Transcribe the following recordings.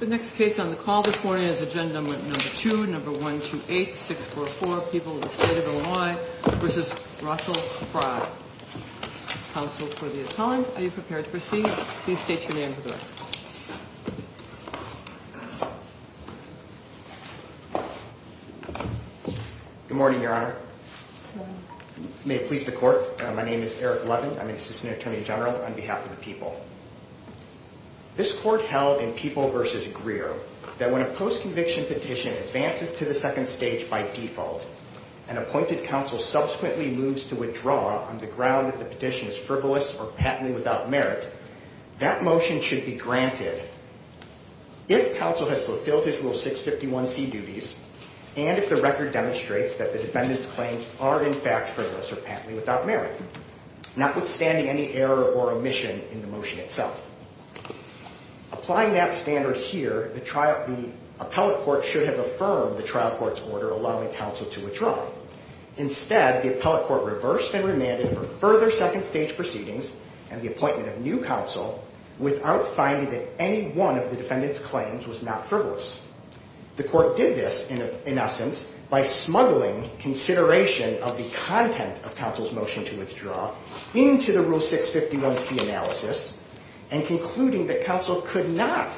The next case on the call this morning is agenda number 2, number 128-644, People of the State of Illinois v. Russell Frey. Counsel for the attorney, are you prepared to proceed? Please state your name for the record. Good morning, Your Honor. Good morning. May it please the Court, my name is Eric Levin. I'm an Assistant Attorney General on behalf of the people. This Court held in People v. Greer that when a post-conviction petition advances to the second stage by default, an appointed counsel subsequently moves to withdraw on the ground that the petition is frivolous or patently without merit, that motion should be granted if counsel has fulfilled his Rule 651C duties and if the record demonstrates that the defendant's claims are in fact frivolous or patently without merit, notwithstanding any error or omission in the motion itself. Applying that standard here, the appellate court should have affirmed the trial court's order allowing counsel to withdraw. Instead, the appellate court reversed and remanded for further second stage proceedings and the appointment of new counsel without finding that any one of the defendant's claims was not frivolous. The Court did this, in essence, by smuggling consideration of the content of counsel's motion to withdraw into the Rule 651C analysis and concluding that counsel could not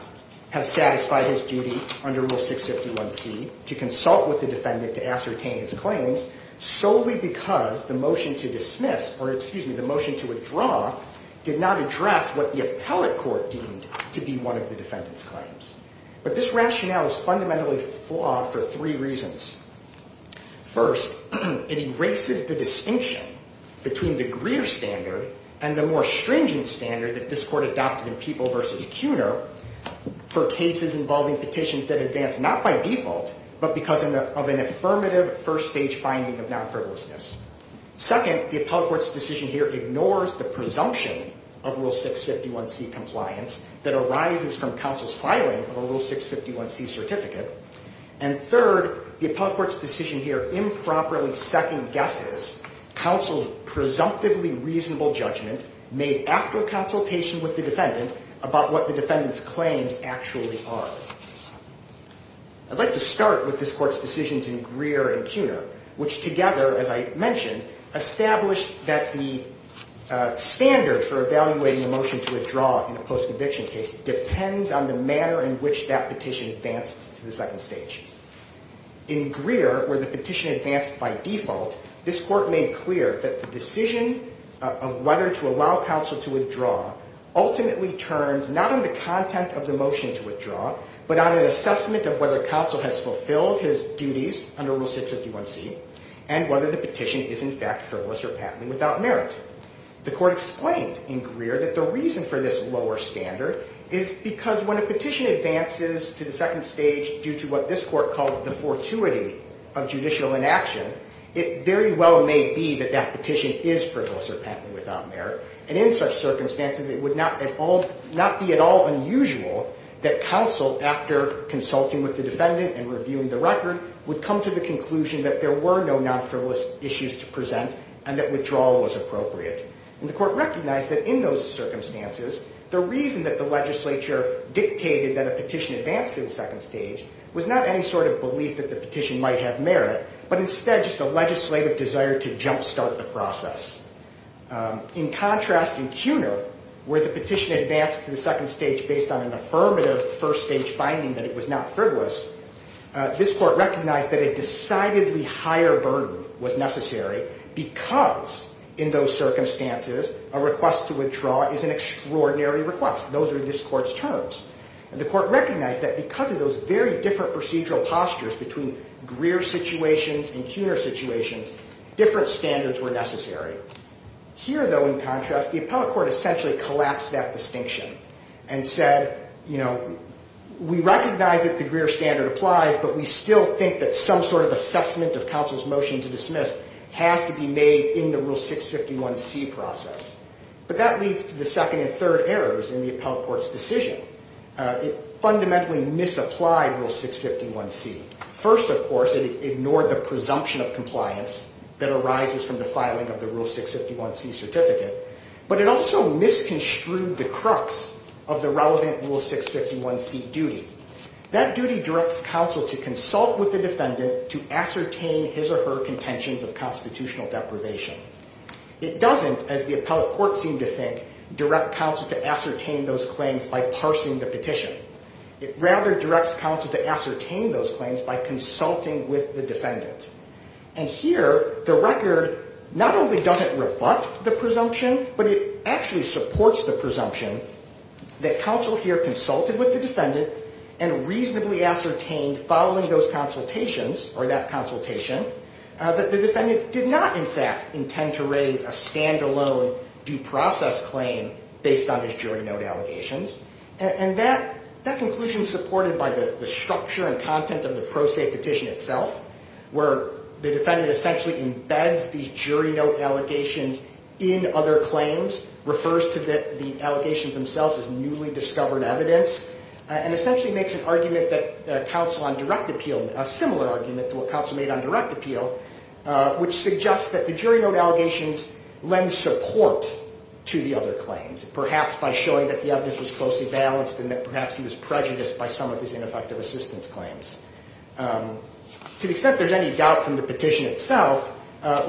have satisfied his duty under Rule 651C to consult with the defendant to ascertain his claims solely because the motion to dismiss, or excuse me, the motion to withdraw did not address what the appellate court deemed to be one of the defendant's claims. But this rationale is fundamentally flawed for three reasons. First, it erases the distinction between the Greer standard and the more stringent standard that this Court adopted in People v. Kuhner for cases involving petitions that advance not by default, but because of an affirmative first stage finding of non-frivolousness. Second, the appellate court's decision here ignores the presumption of Rule 651C compliance that arises from counsel's filing of a Rule 651C certificate. And third, the appellate court's decision here improperly second guesses counsel's presumptively reasonable judgment made after consultation with the defendant about what the defendant's claims actually are. I'd like to start with this Court's decisions in Greer and Kuhner, which together, as I mentioned, established that the standard for evaluating a motion to withdraw in a post-conviction case depends on the manner in which that petition advanced to the second stage. In Greer, where the petition advanced by default, this Court made clear that the decision of whether to allow counsel to withdraw ultimately turns not on the content of the motion to withdraw, but on an assessment of whether counsel has fulfilled his duties under Rule 651C and whether the petition is, in fact, frivolous or patently without merit. The Court explained in Greer that the reason for this lower standard is because when a petition advances to the second stage due to what this Court called the fortuity of judicial inaction, it very well may be that that petition is frivolous or patently without merit. And in such circumstances, it would not be at all unusual that counsel, after consulting with the defendant and reviewing the record, would come to the conclusion that there were no non-frivolous issues to present and that withdrawal was appropriate. And the Court recognized that in those circumstances, the reason that the legislature dictated that a petition advance to the second stage was not any sort of belief that the petition might have merit, but instead just a legislative desire to jumpstart the process. In contrast, in Kuhner, where the petition advanced to the second stage based on an affirmative first-stage finding that it was not frivolous, this Court recognized that a decidedly higher burden was necessary because in those circumstances, a request to withdraw is an extraordinary request. Those are this Court's terms. And the Court recognized that because of those very different procedural postures between Greer's situations and Kuhner's situations, different standards were necessary. Here, though, in contrast, the Appellate Court essentially collapsed that distinction and said, you know, we recognize that the Greer standard applies, but we still think that some sort of assessment of counsel's motion to dismiss has to be made in the Rule 651C process. But that leads to the second and third errors in the Appellate Court's decision. It fundamentally misapplied Rule 651C. First, of course, it ignored the presumption of compliance that arises from the filing of the Rule 651C certificate, but it also misconstrued the crux of the relevant Rule 651C duty. That duty directs counsel to consult with the defendant to ascertain his or her contentions of constitutional deprivation. It doesn't, as the Appellate Court seemed to think, direct counsel to ascertain those claims by parsing the petition. It rather directs counsel to ascertain those claims by consulting with the defendant. And here, the record not only doesn't rebut the presumption, but it actually supports the presumption that counsel here consulted with the defendant and reasonably ascertained following those consultations or that consultation that the defendant did not, in fact, intend to raise a standalone due process claim based on his jury note allegations. And that conclusion is supported by the structure and content of the pro se petition itself, where the defendant essentially embeds these jury note allegations in other claims, refers to the allegations themselves as newly discovered evidence, and essentially makes an argument that counsel on direct appeal, a similar argument to what counsel made on direct appeal, which suggests that the jury note allegations lend support to the other claims, perhaps by showing that the evidence was closely balanced and that perhaps he was prejudiced by some of his ineffective assistance claims. To the extent there's any doubt from the petition itself,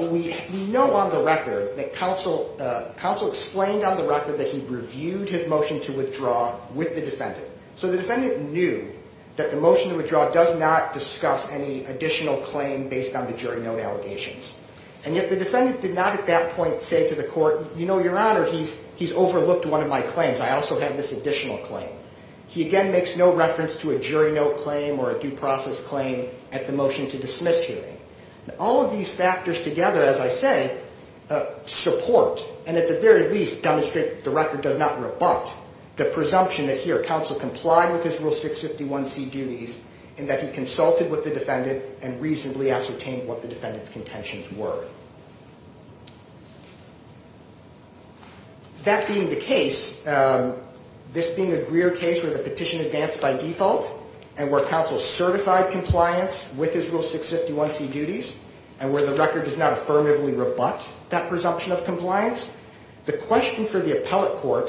we know on the record that counsel explained on the record that he reviewed his motion to withdraw with the defendant. So the defendant knew that the motion to withdraw does not discuss any additional claim based on the jury note allegations. And yet the defendant did not at that point say to the court, you know, your honor, he's overlooked one of my claims. I also have this additional claim. He again makes no reference to a jury note claim or a due process claim at the motion to dismiss hearing. All of these factors together, as I say, support, and at the very least demonstrate that the record does not rebut the presumption that here counsel complied with his Rule 651C duties and that he consulted with the defendant and reasonably ascertained what the defendant's contentions were. That being the case, this being a Greer case where the petition advanced by default and where counsel certified compliance with his Rule 651C duties and where the record does not affirmatively rebut that presumption of compliance, the question for the appellate court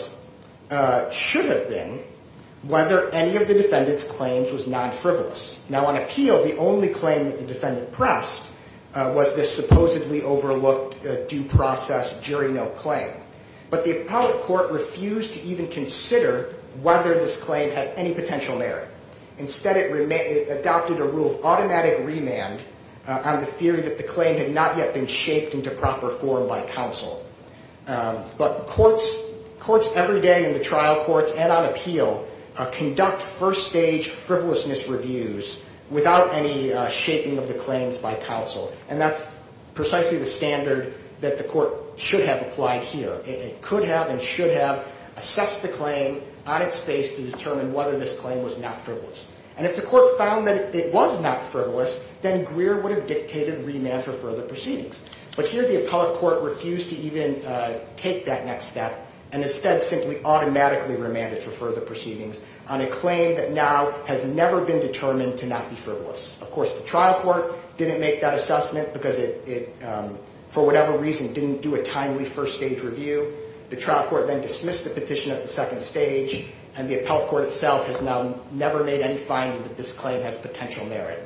should have been whether any of the defendant's claims was non-frivolous. Now on appeal, the only claim that the defendant pressed was this supposedly overlooked due process jury note claim. But the appellate court refused to even consider whether this claim had any potential merit. Instead, it adopted a rule of automatic remand on the theory that the claim had not yet been shaped into proper form by counsel. But courts every day in the trial courts and on appeal conduct first-stage frivolousness reviews without any shaping of the claims by counsel. And that's precisely the standard that the court should have applied here. It could have and should have assessed the claim on its face to determine whether this claim was not frivolous. And if the court found that it was not frivolous, then Greer would have dictated remand for further proceedings. But here the appellate court refused to even take that next step and instead simply automatically remanded for further proceedings on a claim that now has never been determined to not be frivolous. Of course, the trial court didn't make that assessment because it, for whatever reason, didn't do a timely first-stage review. The trial court then dismissed the petition at the second stage and the appellate court itself has now never made any finding that this claim has potential merit.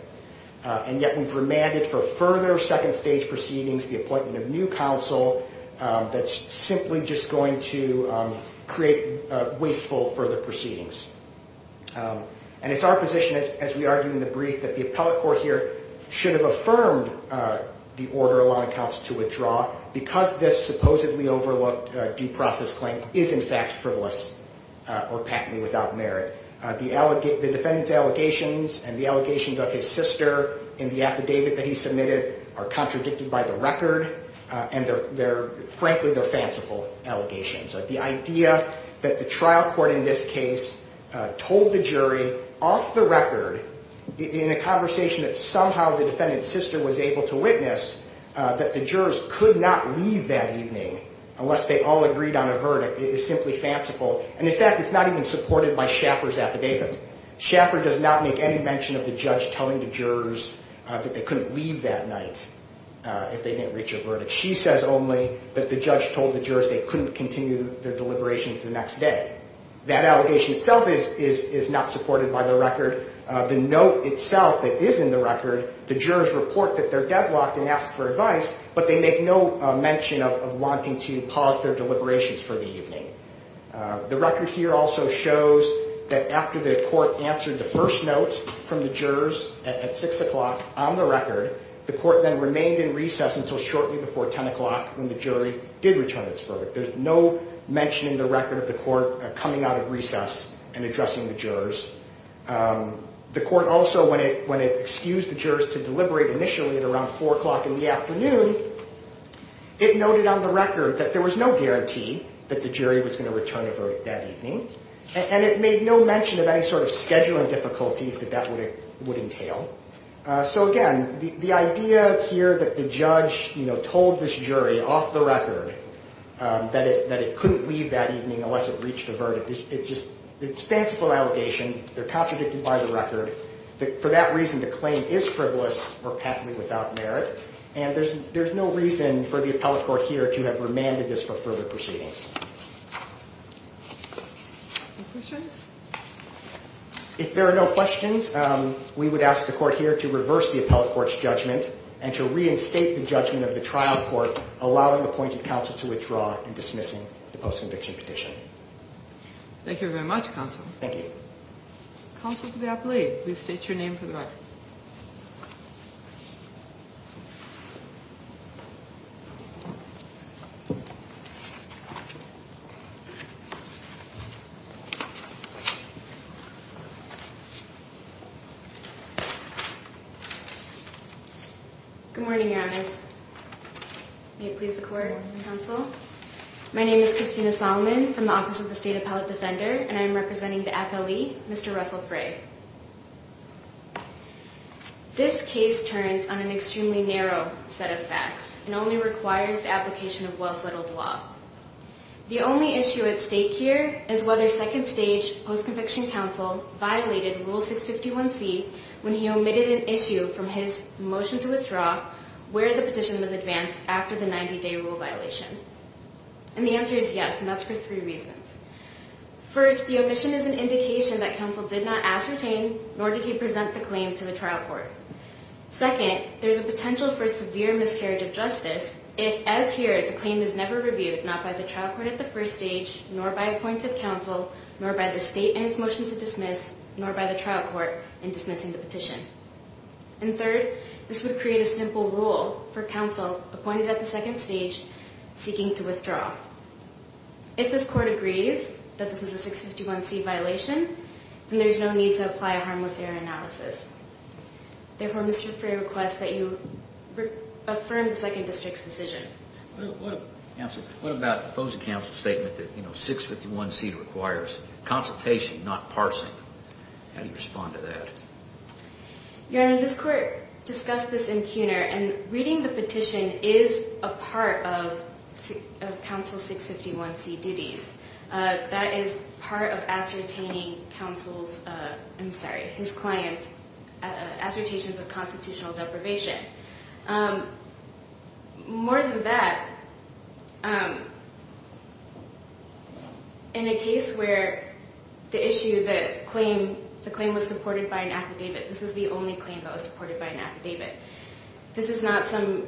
And yet we've remanded for further second-stage proceedings the appointment of new counsel that's simply just going to create wasteful further proceedings. And it's our position, as we argue in the brief, that the appellate court here should have affirmed the order allowing counsel to withdraw because this supposedly overlooked due process claim is in fact frivolous or patently without merit. The defendant's allegations and the allegations of his sister in the affidavit that he submitted are contradicted by the record and, frankly, they're fanciful allegations. The idea that the trial court in this case told the jury off the record in a conversation that somehow the defendant's sister was able to witness that the jurors could not leave that evening unless they all agreed on a verdict is simply fanciful. And, in fact, it's not even supported by Schaffer's affidavit. Schaffer does not make any mention of the judge telling the jurors that they couldn't leave that night if they didn't reach a verdict. She says only that the judge told the jurors they couldn't continue their deliberations the next day. That allegation itself is not supported by the record. The note itself that is in the record, the jurors report that they're deadlocked and ask for advice, but they make no mention of wanting to pause their deliberations for the evening. The record here also shows that after the court answered the first note from the jurors at 6 o'clock on the record, the court then remained in recess until shortly before 10 o'clock when the jury did return its verdict. There's no mention in the record of the court coming out of recess and addressing the jurors. The court also, when it excused the jurors to deliberate initially at around 4 o'clock in the afternoon, it noted on the record that there was no guarantee that the jury was going to return a verdict that evening, and it made no mention of any sort of scheduling difficulties that that would entail. So again, the idea here that the judge told this jury off the record that it couldn't leave that evening unless it reached a verdict, it's just fanciful allegations. They're contradicted by the record. For that reason, the claim is frivolous or patently without merit, and there's no reason for the appellate court here to have remanded this for further proceedings. Any questions? If there are no questions, we would ask the court here to reverse the appellate court's judgment and to reinstate the judgment of the trial court, allowing appointed counsel to withdraw and dismissing the post-conviction petition. Thank you very much, counsel. Thank you. Counsel for the appellate, please state your name for the record. Good morning, Your Honors. May it please the court and counsel. My name is Christina Solomon from the Office of the State Appellate Defender, and I am representing the appellee, Mr. Russell Frey. This case turns on an extremely narrow set of facts and only requires the application of well-settled law. The only issue at stake here is whether such a case post-conviction counsel violated Rule 651C when he omitted an issue from his motion to withdraw where the petition was advanced after the 90-day rule violation. And the answer is yes, and that's for three reasons. First, the omission is an indication that counsel did not ascertain nor did he present the claim to the trial court. Second, there's a potential for severe miscarriage of justice if, as here, the claim is never reviewed, not by the trial court at the first stage nor by appointed counsel nor by the state in its motion to dismiss nor by the trial court in dismissing the petition. And third, this would create a simple rule for counsel appointed at the second stage seeking to withdraw. If this court agrees that this was a 651C violation, then there's no need to apply a harmless error analysis. Therefore, Mr. Frey requests that you affirm the Second District's decision. Counsel, what about opposing counsel's statement that 651C requires consultation, not parsing? How do you respond to that? Your Honor, this court discussed this in CUNER, and reading the petition is a part of counsel's 651C duties. That is part of ascertaining counsel's, I'm sorry, his client's assertions of constitutional deprivation. More than that, in a case where the issue, the claim was supported by an affidavit, this was the only claim that was supported by an affidavit. This is not some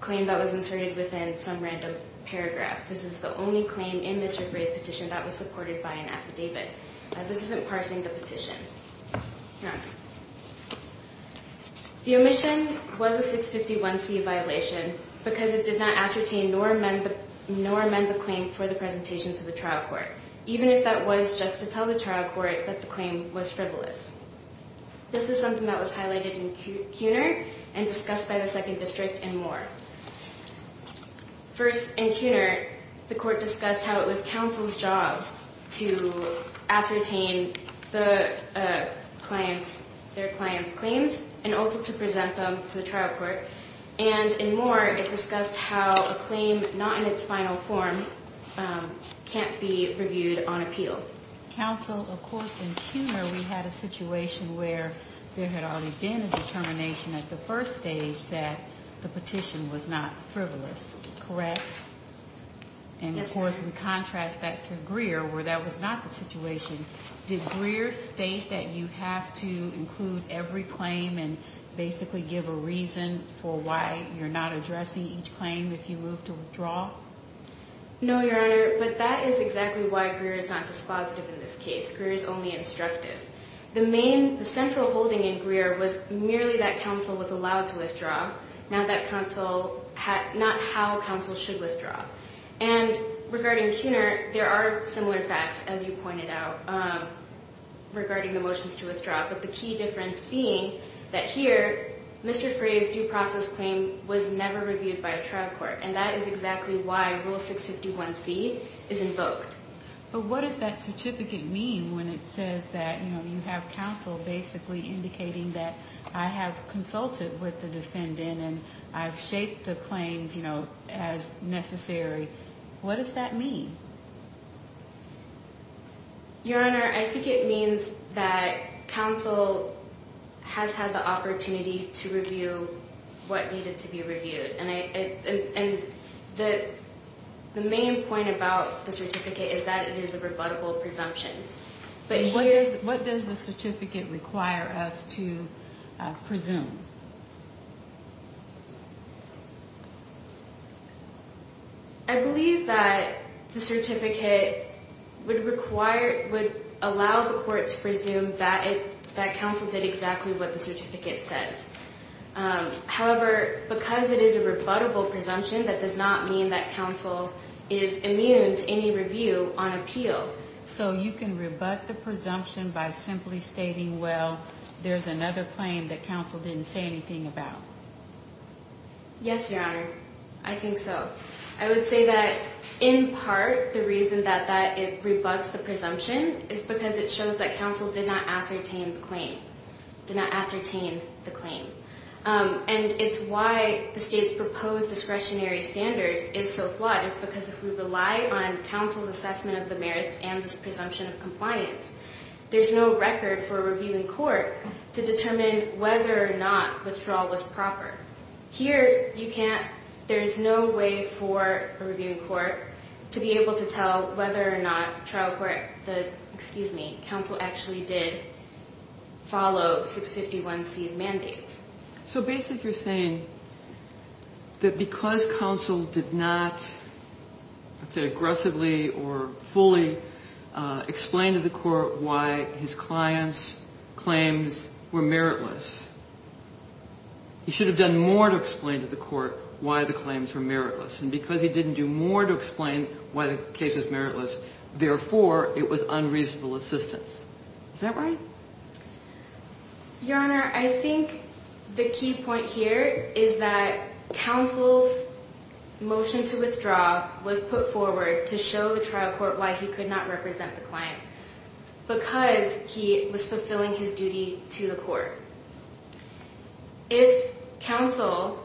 claim that was inserted within some random paragraph. This is the only claim in Mr. Frey's petition that was supported by an affidavit. This isn't parsing the petition. Your Honor, the omission was a 651C violation because it did not ascertain nor amend the claim for the presentation to the trial court, even if that was just to tell the trial court that the claim was frivolous. This is something that was highlighted in CUNER and discussed by the Second District and more. First, in CUNER, the court discussed how it was counsel's job to ascertain the client's, their client's claims and also to present them to the trial court. And in more, it discussed how a claim not in its final form can't be reviewed on appeal. Counsel, of course, in CUNER, we had a situation where there had already been a determination at the first stage that the petition was not frivolous. Correct? And, of course, in contrast back to Greer, where that was not the situation, did Greer state that you have to include every claim and basically give a reason for why you're not addressing each claim if you move to withdraw? No, Your Honor, but that is exactly why Greer is not dispositive in this case. Greer is only instructive. was merely that counsel was allowed to withdraw. Not that counsel had, not how counsel should withdraw. And regarding CUNER, there are similar facts, as you pointed out, regarding the motions to withdraw. But the key difference being that here, Mr. Frey's due process claim was never reviewed by a trial court. And that is exactly why Rule 651C is invoked. But what does that certificate mean when it says that, you know, you have counsel basically indicating that I have consulted with the defendant and I've shaped the claims, you know, as necessary? What does that mean? Your Honor, I think it means that counsel has had the opportunity to review what needed to be reviewed. And the main point about the certificate is that it is a rebuttable presumption. What does the certificate require us to presume? I believe that the certificate would require, would allow the court to presume that counsel did exactly what the certificate says. However, because it is a rebuttable presumption, that does not mean that counsel is immune to any review on appeal. So you can rebut the presumption by simply stating, well, there's another claim that counsel didn't say anything about? Yes, Your Honor. I think so. I would say that, in part, the reason that it rebuts the presumption is because it shows that counsel did not ascertain the claim. And it's why the state's proposed discretionary standard is so flawed. It's because if we rely on counsel's assessment of the merits and this presumption of compliance, there's no record for a review in court to determine whether or not withdrawal was proper. Here, you can't, there's no way for a review in court to be able to tell whether or not trial court, excuse me, counsel actually did follow 651C's mandates. So basically you're saying that because counsel did not, let's say aggressively or fully explain to the court why his client's claims were meritless, he should have done more to explain to the court why the claims were meritless. And because he didn't do more to explain why the case was meritless, therefore, it was unreasonable assistance. Is that right? Your Honor, I think the key point here is that counsel's motion to withdraw was put forward to show the trial court why he could not represent the client because he was fulfilling his duty to the court. If counsel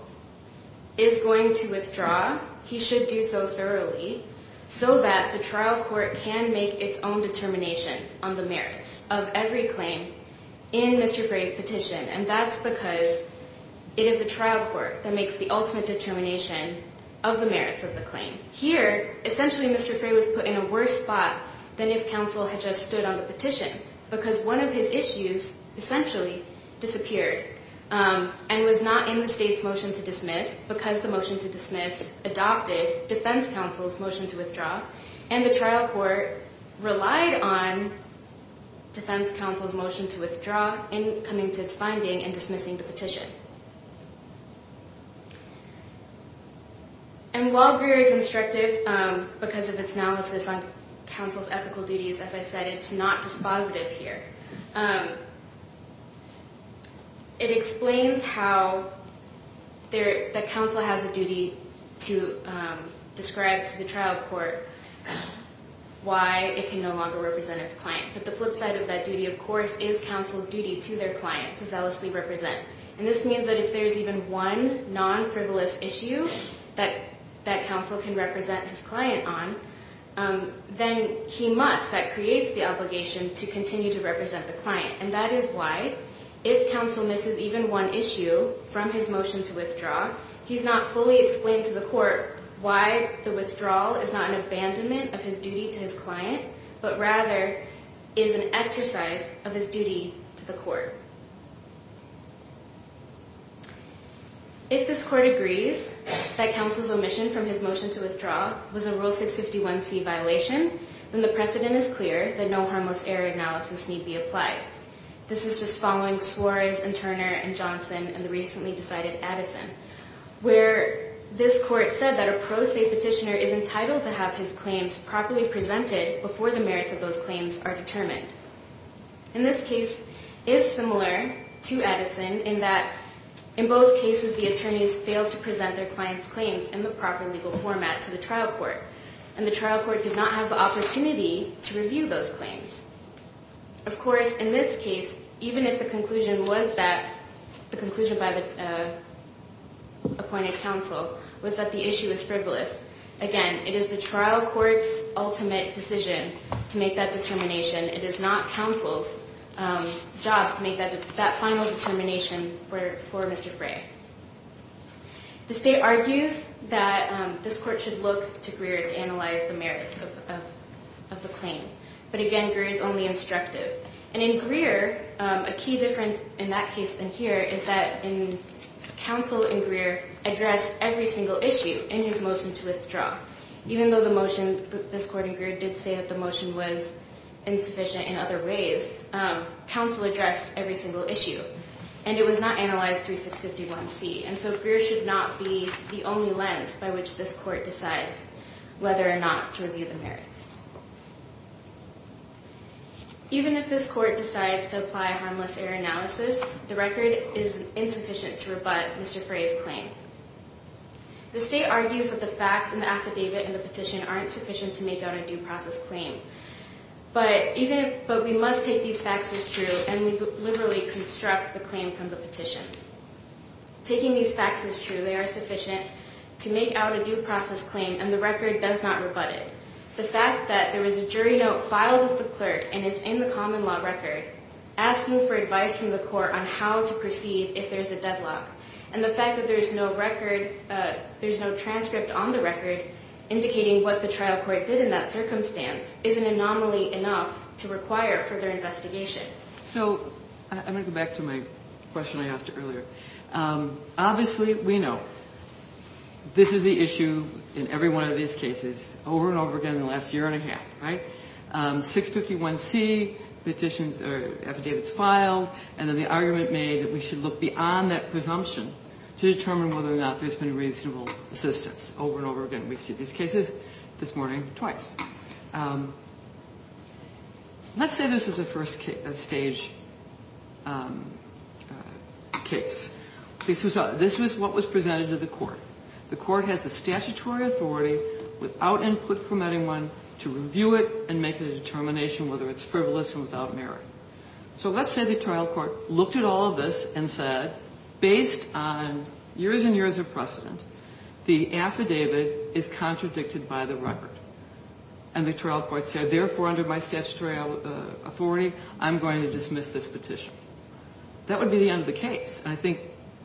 is going to withdraw, he should do so thoroughly so that the trial court can make its own determination on the merits of every claim in Mr. Frey's petition. And that's because it is the trial court that makes the ultimate determination of the merits of the claim. Here, essentially Mr. Frey was put in a worse spot than if counsel had just stood on the petition because one of his issues essentially disappeared and was not in the state's motion to dismiss because the motion to dismiss adopted defense counsel's motion to withdraw. And the trial court relied on defense counsel's motion to withdraw in coming to its finding and dismissing the petition. And while Greer is instructive because of its analysis on counsel's ethical duties, as I said, it's not dispositive here. It explains how the counsel has a duty to describe to the trial court why it can no longer represent its client. But the flip side of that duty, of course, is counsel's duty to their client to zealously represent. And this means that if there's even one non-frivolous issue that counsel can represent his client on, then he must, that creates the obligation to continue to represent the client. And that is why if counsel misses even one issue from his motion to withdraw, he's not fully explained to the court why the withdrawal is not an abandonment of his duty to his client, but rather is an exercise of his duty to the court. If this court agrees that counsel's omission from his motion to withdraw was a Rule 651C violation, then the precedent is clear that no harmless error analysis need be applied. This is just following Suarez and Turner and Johnson and the recently decided Addison, where this court said that a pro se petitioner is entitled to have his claims properly presented before the merits of those claims are determined. And this case is similar to Addison in that in both cases, the attorneys failed to present their client's claims in the proper legal format to the trial court. And the trial court did not have the opportunity to review those claims. Of course, in this case, even if the conclusion was that the conclusion by the appointed counsel was that the issue is frivolous, again, it is the trial court's ultimate decision to make that determination. It is not counsel's job to make that final determination for Mr. Gray. The state argues that this court should look to Greer to analyze the merits of the claim. But again, Greer is only instructive. And in Greer, a key difference in that case than here is that counsel in Greer addressed every single issue in his motion to withdraw. Even though this court in Greer did say that the motion was insufficient in other ways, counsel addressed every single issue. And it was not analyzed through 651C. And so Greer should not be the only lens by which this court decides whether or not to review the merits. Even if this court decides to apply harmless error analysis, the record is insufficient to rebut Mr. Gray's claim. The state argues that the facts in the affidavit and the petition aren't sufficient to make out a due process claim. But we must take these facts as true, and we liberally construct the claim from the petition. Taking these facts as true, they are sufficient to make out a due process claim, and the record does not rebut it. The fact that there was a jury note filed with the clerk and it's in the common law record asking for advice from the court on how to proceed if there's a deadlock, and the fact that there's no transcript on the record indicating what the trial court did in that circumstance is an anomaly enough to require further investigation. So I'm going to go back to my question I asked earlier. Obviously, we know this is the issue in every one of these cases over and over again in the last year and a half, right? 651C, the affidavit's filed, and then the argument made that we should look beyond that presumption to determine whether or not there's been reasonable assistance over and over again. We see these cases this morning twice. Let's say this is a first-stage case. This was what was presented to the court. The court has the statutory authority without input from anyone to review it and make a determination whether it's frivolous and without merit. So let's say the trial court looked at all of this and said, based on years and years of precedent, the affidavit is contradicted by the record, and the trial court said, therefore, under my statutory authority, I'm going to dismiss this petition. That would be the end of the case, and I think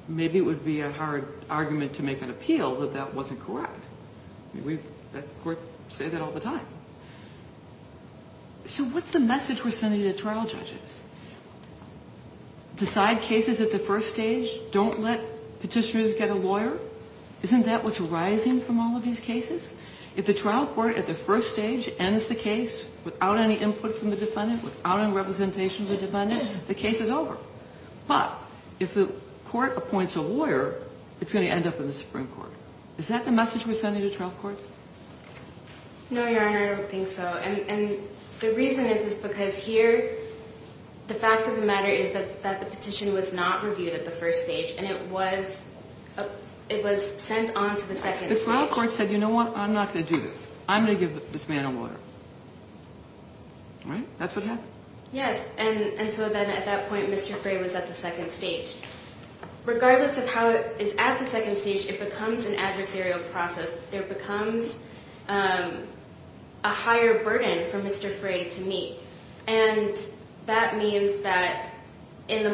maybe it would be a hard argument to make an appeal that that wasn't correct. We at the court say that all the time. So what's the message we're sending to trial judges? Decide cases at the first stage? Don't let petitioners get a lawyer? Isn't that what's arising from all of these cases? If the trial court at the first stage ends the case without any input from the defendant, without any representation from the defendant, the case is over. But if the court appoints a lawyer, it's going to end up in the Supreme Court. Is that the message we're sending to trial courts? No, Your Honor, I don't think so. And the reason is, is because here the fact of the matter is that the petition was not reviewed at the first stage, and it was sent on to the second stage. The trial court said, you know what, I'm not going to do this. I'm going to give this man a lawyer. Right? That's what happened. Yes. And so then at that point Mr. Frey was at the second stage. Regardless of how it is at the second stage, it becomes an adversarial process. There becomes a higher burden for Mr. Frey to meet. And that means that there's a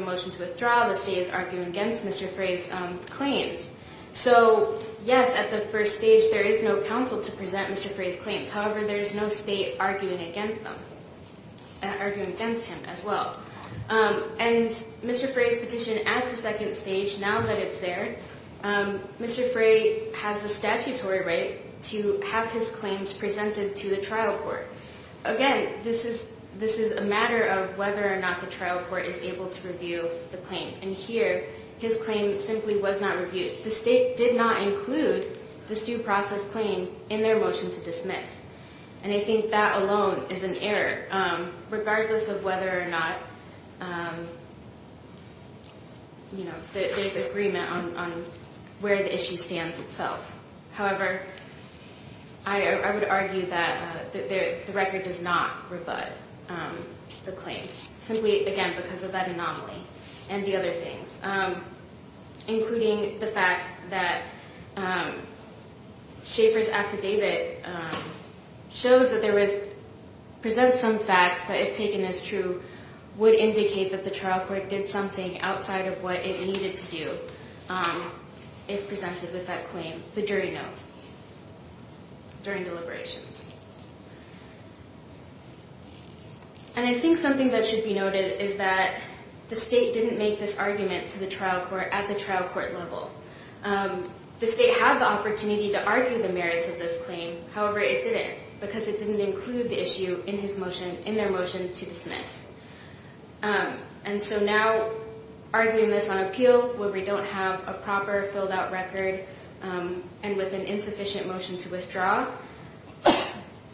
motion to withdraw, the state is arguing against Mr. Frey's claims. So, yes, at the first stage there is no counsel to present Mr. Frey's claims. However, there is no state arguing against him as well. And Mr. Frey's petition at the second stage, now that it's there, Mr. Frey has the statutory right to have his claims presented to the trial court. Again, this is a matter of whether or not the trial court is able to review the claim. And here his claim simply was not reviewed. The state did not include this due process claim in their motion to dismiss. And I think that alone is an error, regardless of whether or not, you know, there's agreement on where the issue stands itself. However, I would argue that the record does not rebut the claim, simply, again, because of that anomaly and the other things, including the fact that Schaefer's affidavit shows that there was, presents some facts, but if taken as true, would indicate that the trial court did something outside of what it needed to do if presented with that claim, the jury note, during deliberations. And I think something that should be noted is that the state didn't make this argument to the trial court at the trial court level. The state had the opportunity to argue the merits of this claim. However, it didn't because it didn't include the issue in his motion, in their motion to dismiss. And so now, arguing this on appeal, where we don't have a proper filled-out record and with an insufficient motion to withdraw,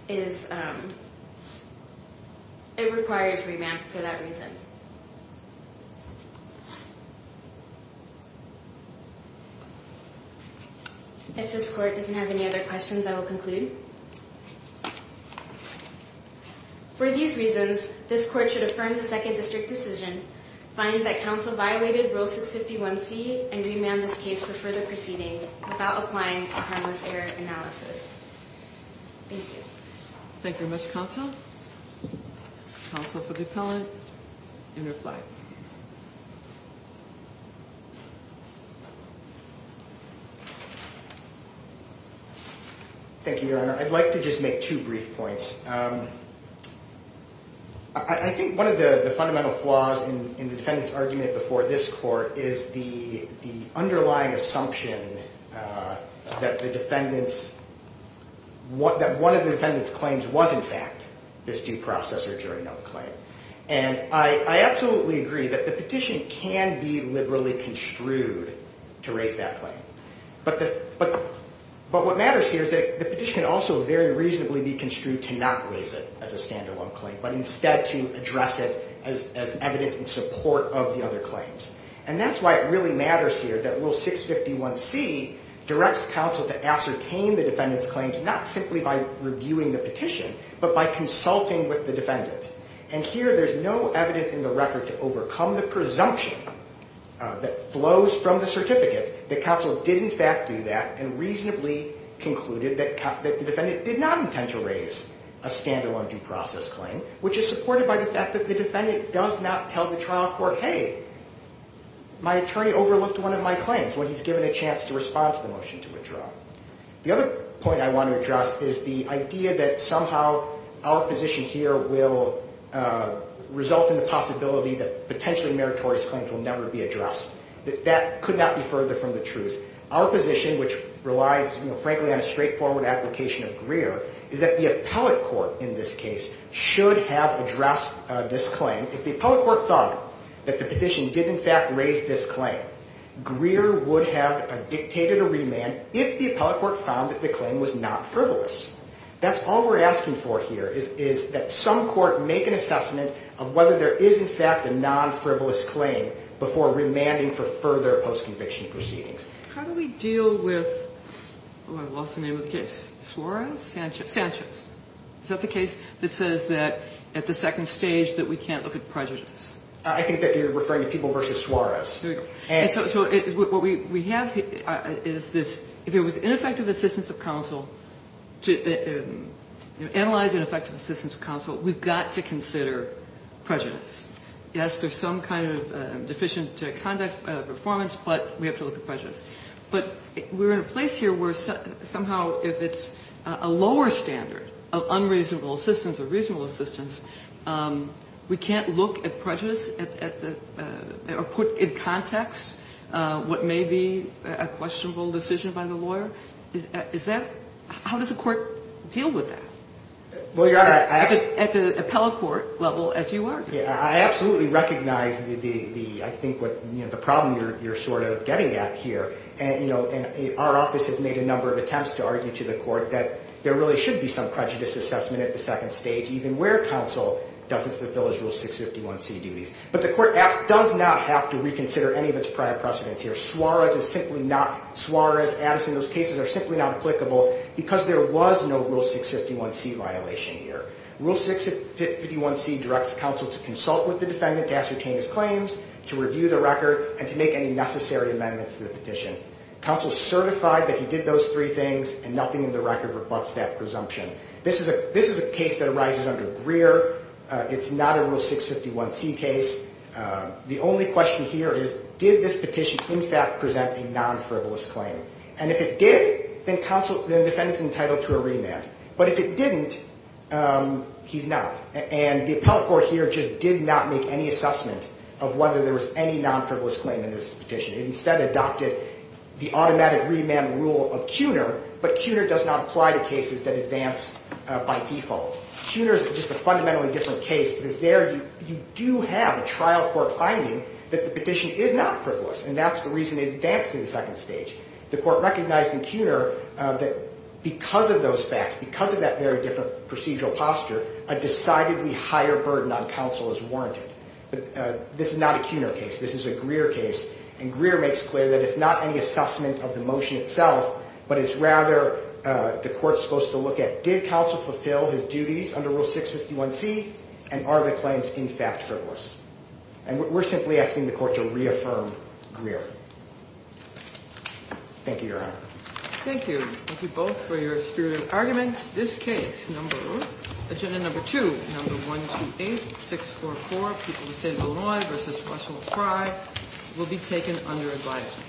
is, it requires remand for that reason. If this court doesn't have any other questions, I will conclude. For these reasons, this court should affirm the second district decision, find that counsel violated Rule 651C, and remand this case for further proceedings without applying a harmless error analysis. Thank you. Thank you very much, counsel. Counsel for the appellant, you may reply. Thank you, Your Honor. I'd like to just make two brief points. I think one of the fundamental flaws in the defendant's argument before this court is the underlying assumption that the defendant's, that one of the defendant's claims was, in fact, this due process or jury note claim. And I absolutely agree that the petition can be liberally construed to raise that claim. But what matters here is that the petition can also very reasonably be construed to not raise it as a stand-alone claim, but instead to address it as evidence in support of the other claims. And that's why it really matters here that Rule 651C directs counsel to ascertain the defendant's claims not simply by reviewing the petition, but by consulting with the defendant. And here, there's no evidence in the record to overcome the presumption that flows from the certificate that counsel did, in fact, do that and reasonably concluded that the defendant did not intend to raise a stand-alone due process claim, which is supported by the fact that the defendant does not tell the trial court, hey, my attorney overlooked one of my claims when he's given a chance to respond to the motion to withdraw. The other point I want to address is the idea that somehow our position here will result in the possibility that potentially meritorious claims will never be addressed. That could not be further from the truth. Our position, which relies, frankly, on a straightforward application of Greer, is that the appellate court in this case should have addressed this claim. If the appellate court thought that the petition did, in fact, raise this claim, Greer would have dictated a remand if the appellate court found that the claim was not frivolous. That's all we're asking for here is that some court make an assessment of whether there is, in fact, a non-frivolous claim before remanding for further post-conviction proceedings. How do we deal with, oh, I've lost the name of the case, Suarez? Sanchez. Sanchez. Is that the case that says that at the second stage that we can't look at prejudice? I think that you're referring to people versus Suarez. So what we have is this. If it was ineffective assistance of counsel, to analyze ineffective assistance of counsel, we've got to consider prejudice. Yes, there's some kind of deficient conduct performance, but we have to look at prejudice. But we're in a place here where somehow if it's a lower standard of unreasonable assistance or reasonable assistance, we can't look at prejudice or put in context what may be a questionable decision by the lawyer? Is that – how does the court deal with that? Well, Your Honor, I absolutely – At the appellate court level as you are. Yeah, I absolutely recognize the – I think what – the problem you're sort of getting at here. And, you know, our office has made a number of attempts to argue to the court that there really should be some prejudice assessment at the second stage even where counsel doesn't fulfill his Rule 651C duties. But the court does not have to reconsider any of its prior precedents here. Suarez is simply not – Suarez, Addison, those cases are simply not applicable because there was no Rule 651C violation here. Rule 651C directs counsel to consult with the defendant to ascertain his claims, to review the record, and to make any necessary amendments to the petition. Counsel is certified that he did those three things, and nothing in the record rebutts that presumption. This is a case that arises under Greer. It's not a Rule 651C case. The only question here is did this petition in fact present a non-frivolous claim? And if it did, then counsel – then the defendant's entitled to a remand. But if it didn't, he's not. And the appellate court here just did not make any assessment of whether there was any non-frivolous claim in this petition. It instead adopted the automatic remand rule of CUNER, but CUNER does not apply to cases that advance by default. CUNER is just a fundamentally different case because there you do have a trial court finding that the petition is not frivolous, and that's the reason it advanced to the second stage. The court recognized in CUNER that because of those facts, because of that very different procedural posture, a decidedly higher burden on counsel is warranted. But this is not a CUNER case. This is a Greer case, and Greer makes clear that it's not any assessment of the motion itself, but it's rather the court's supposed to look at did counsel fulfill his duties under Rule 651C, and are the claims in fact frivolous? And we're simply asking the court to reaffirm Greer. Thank you, Your Honor. Thank you. Thank you both for your spirited arguments. And that's this case, number one. Agenda number two, number 128644, people who say Illinois versus Russell Frye, will be taken under advisement.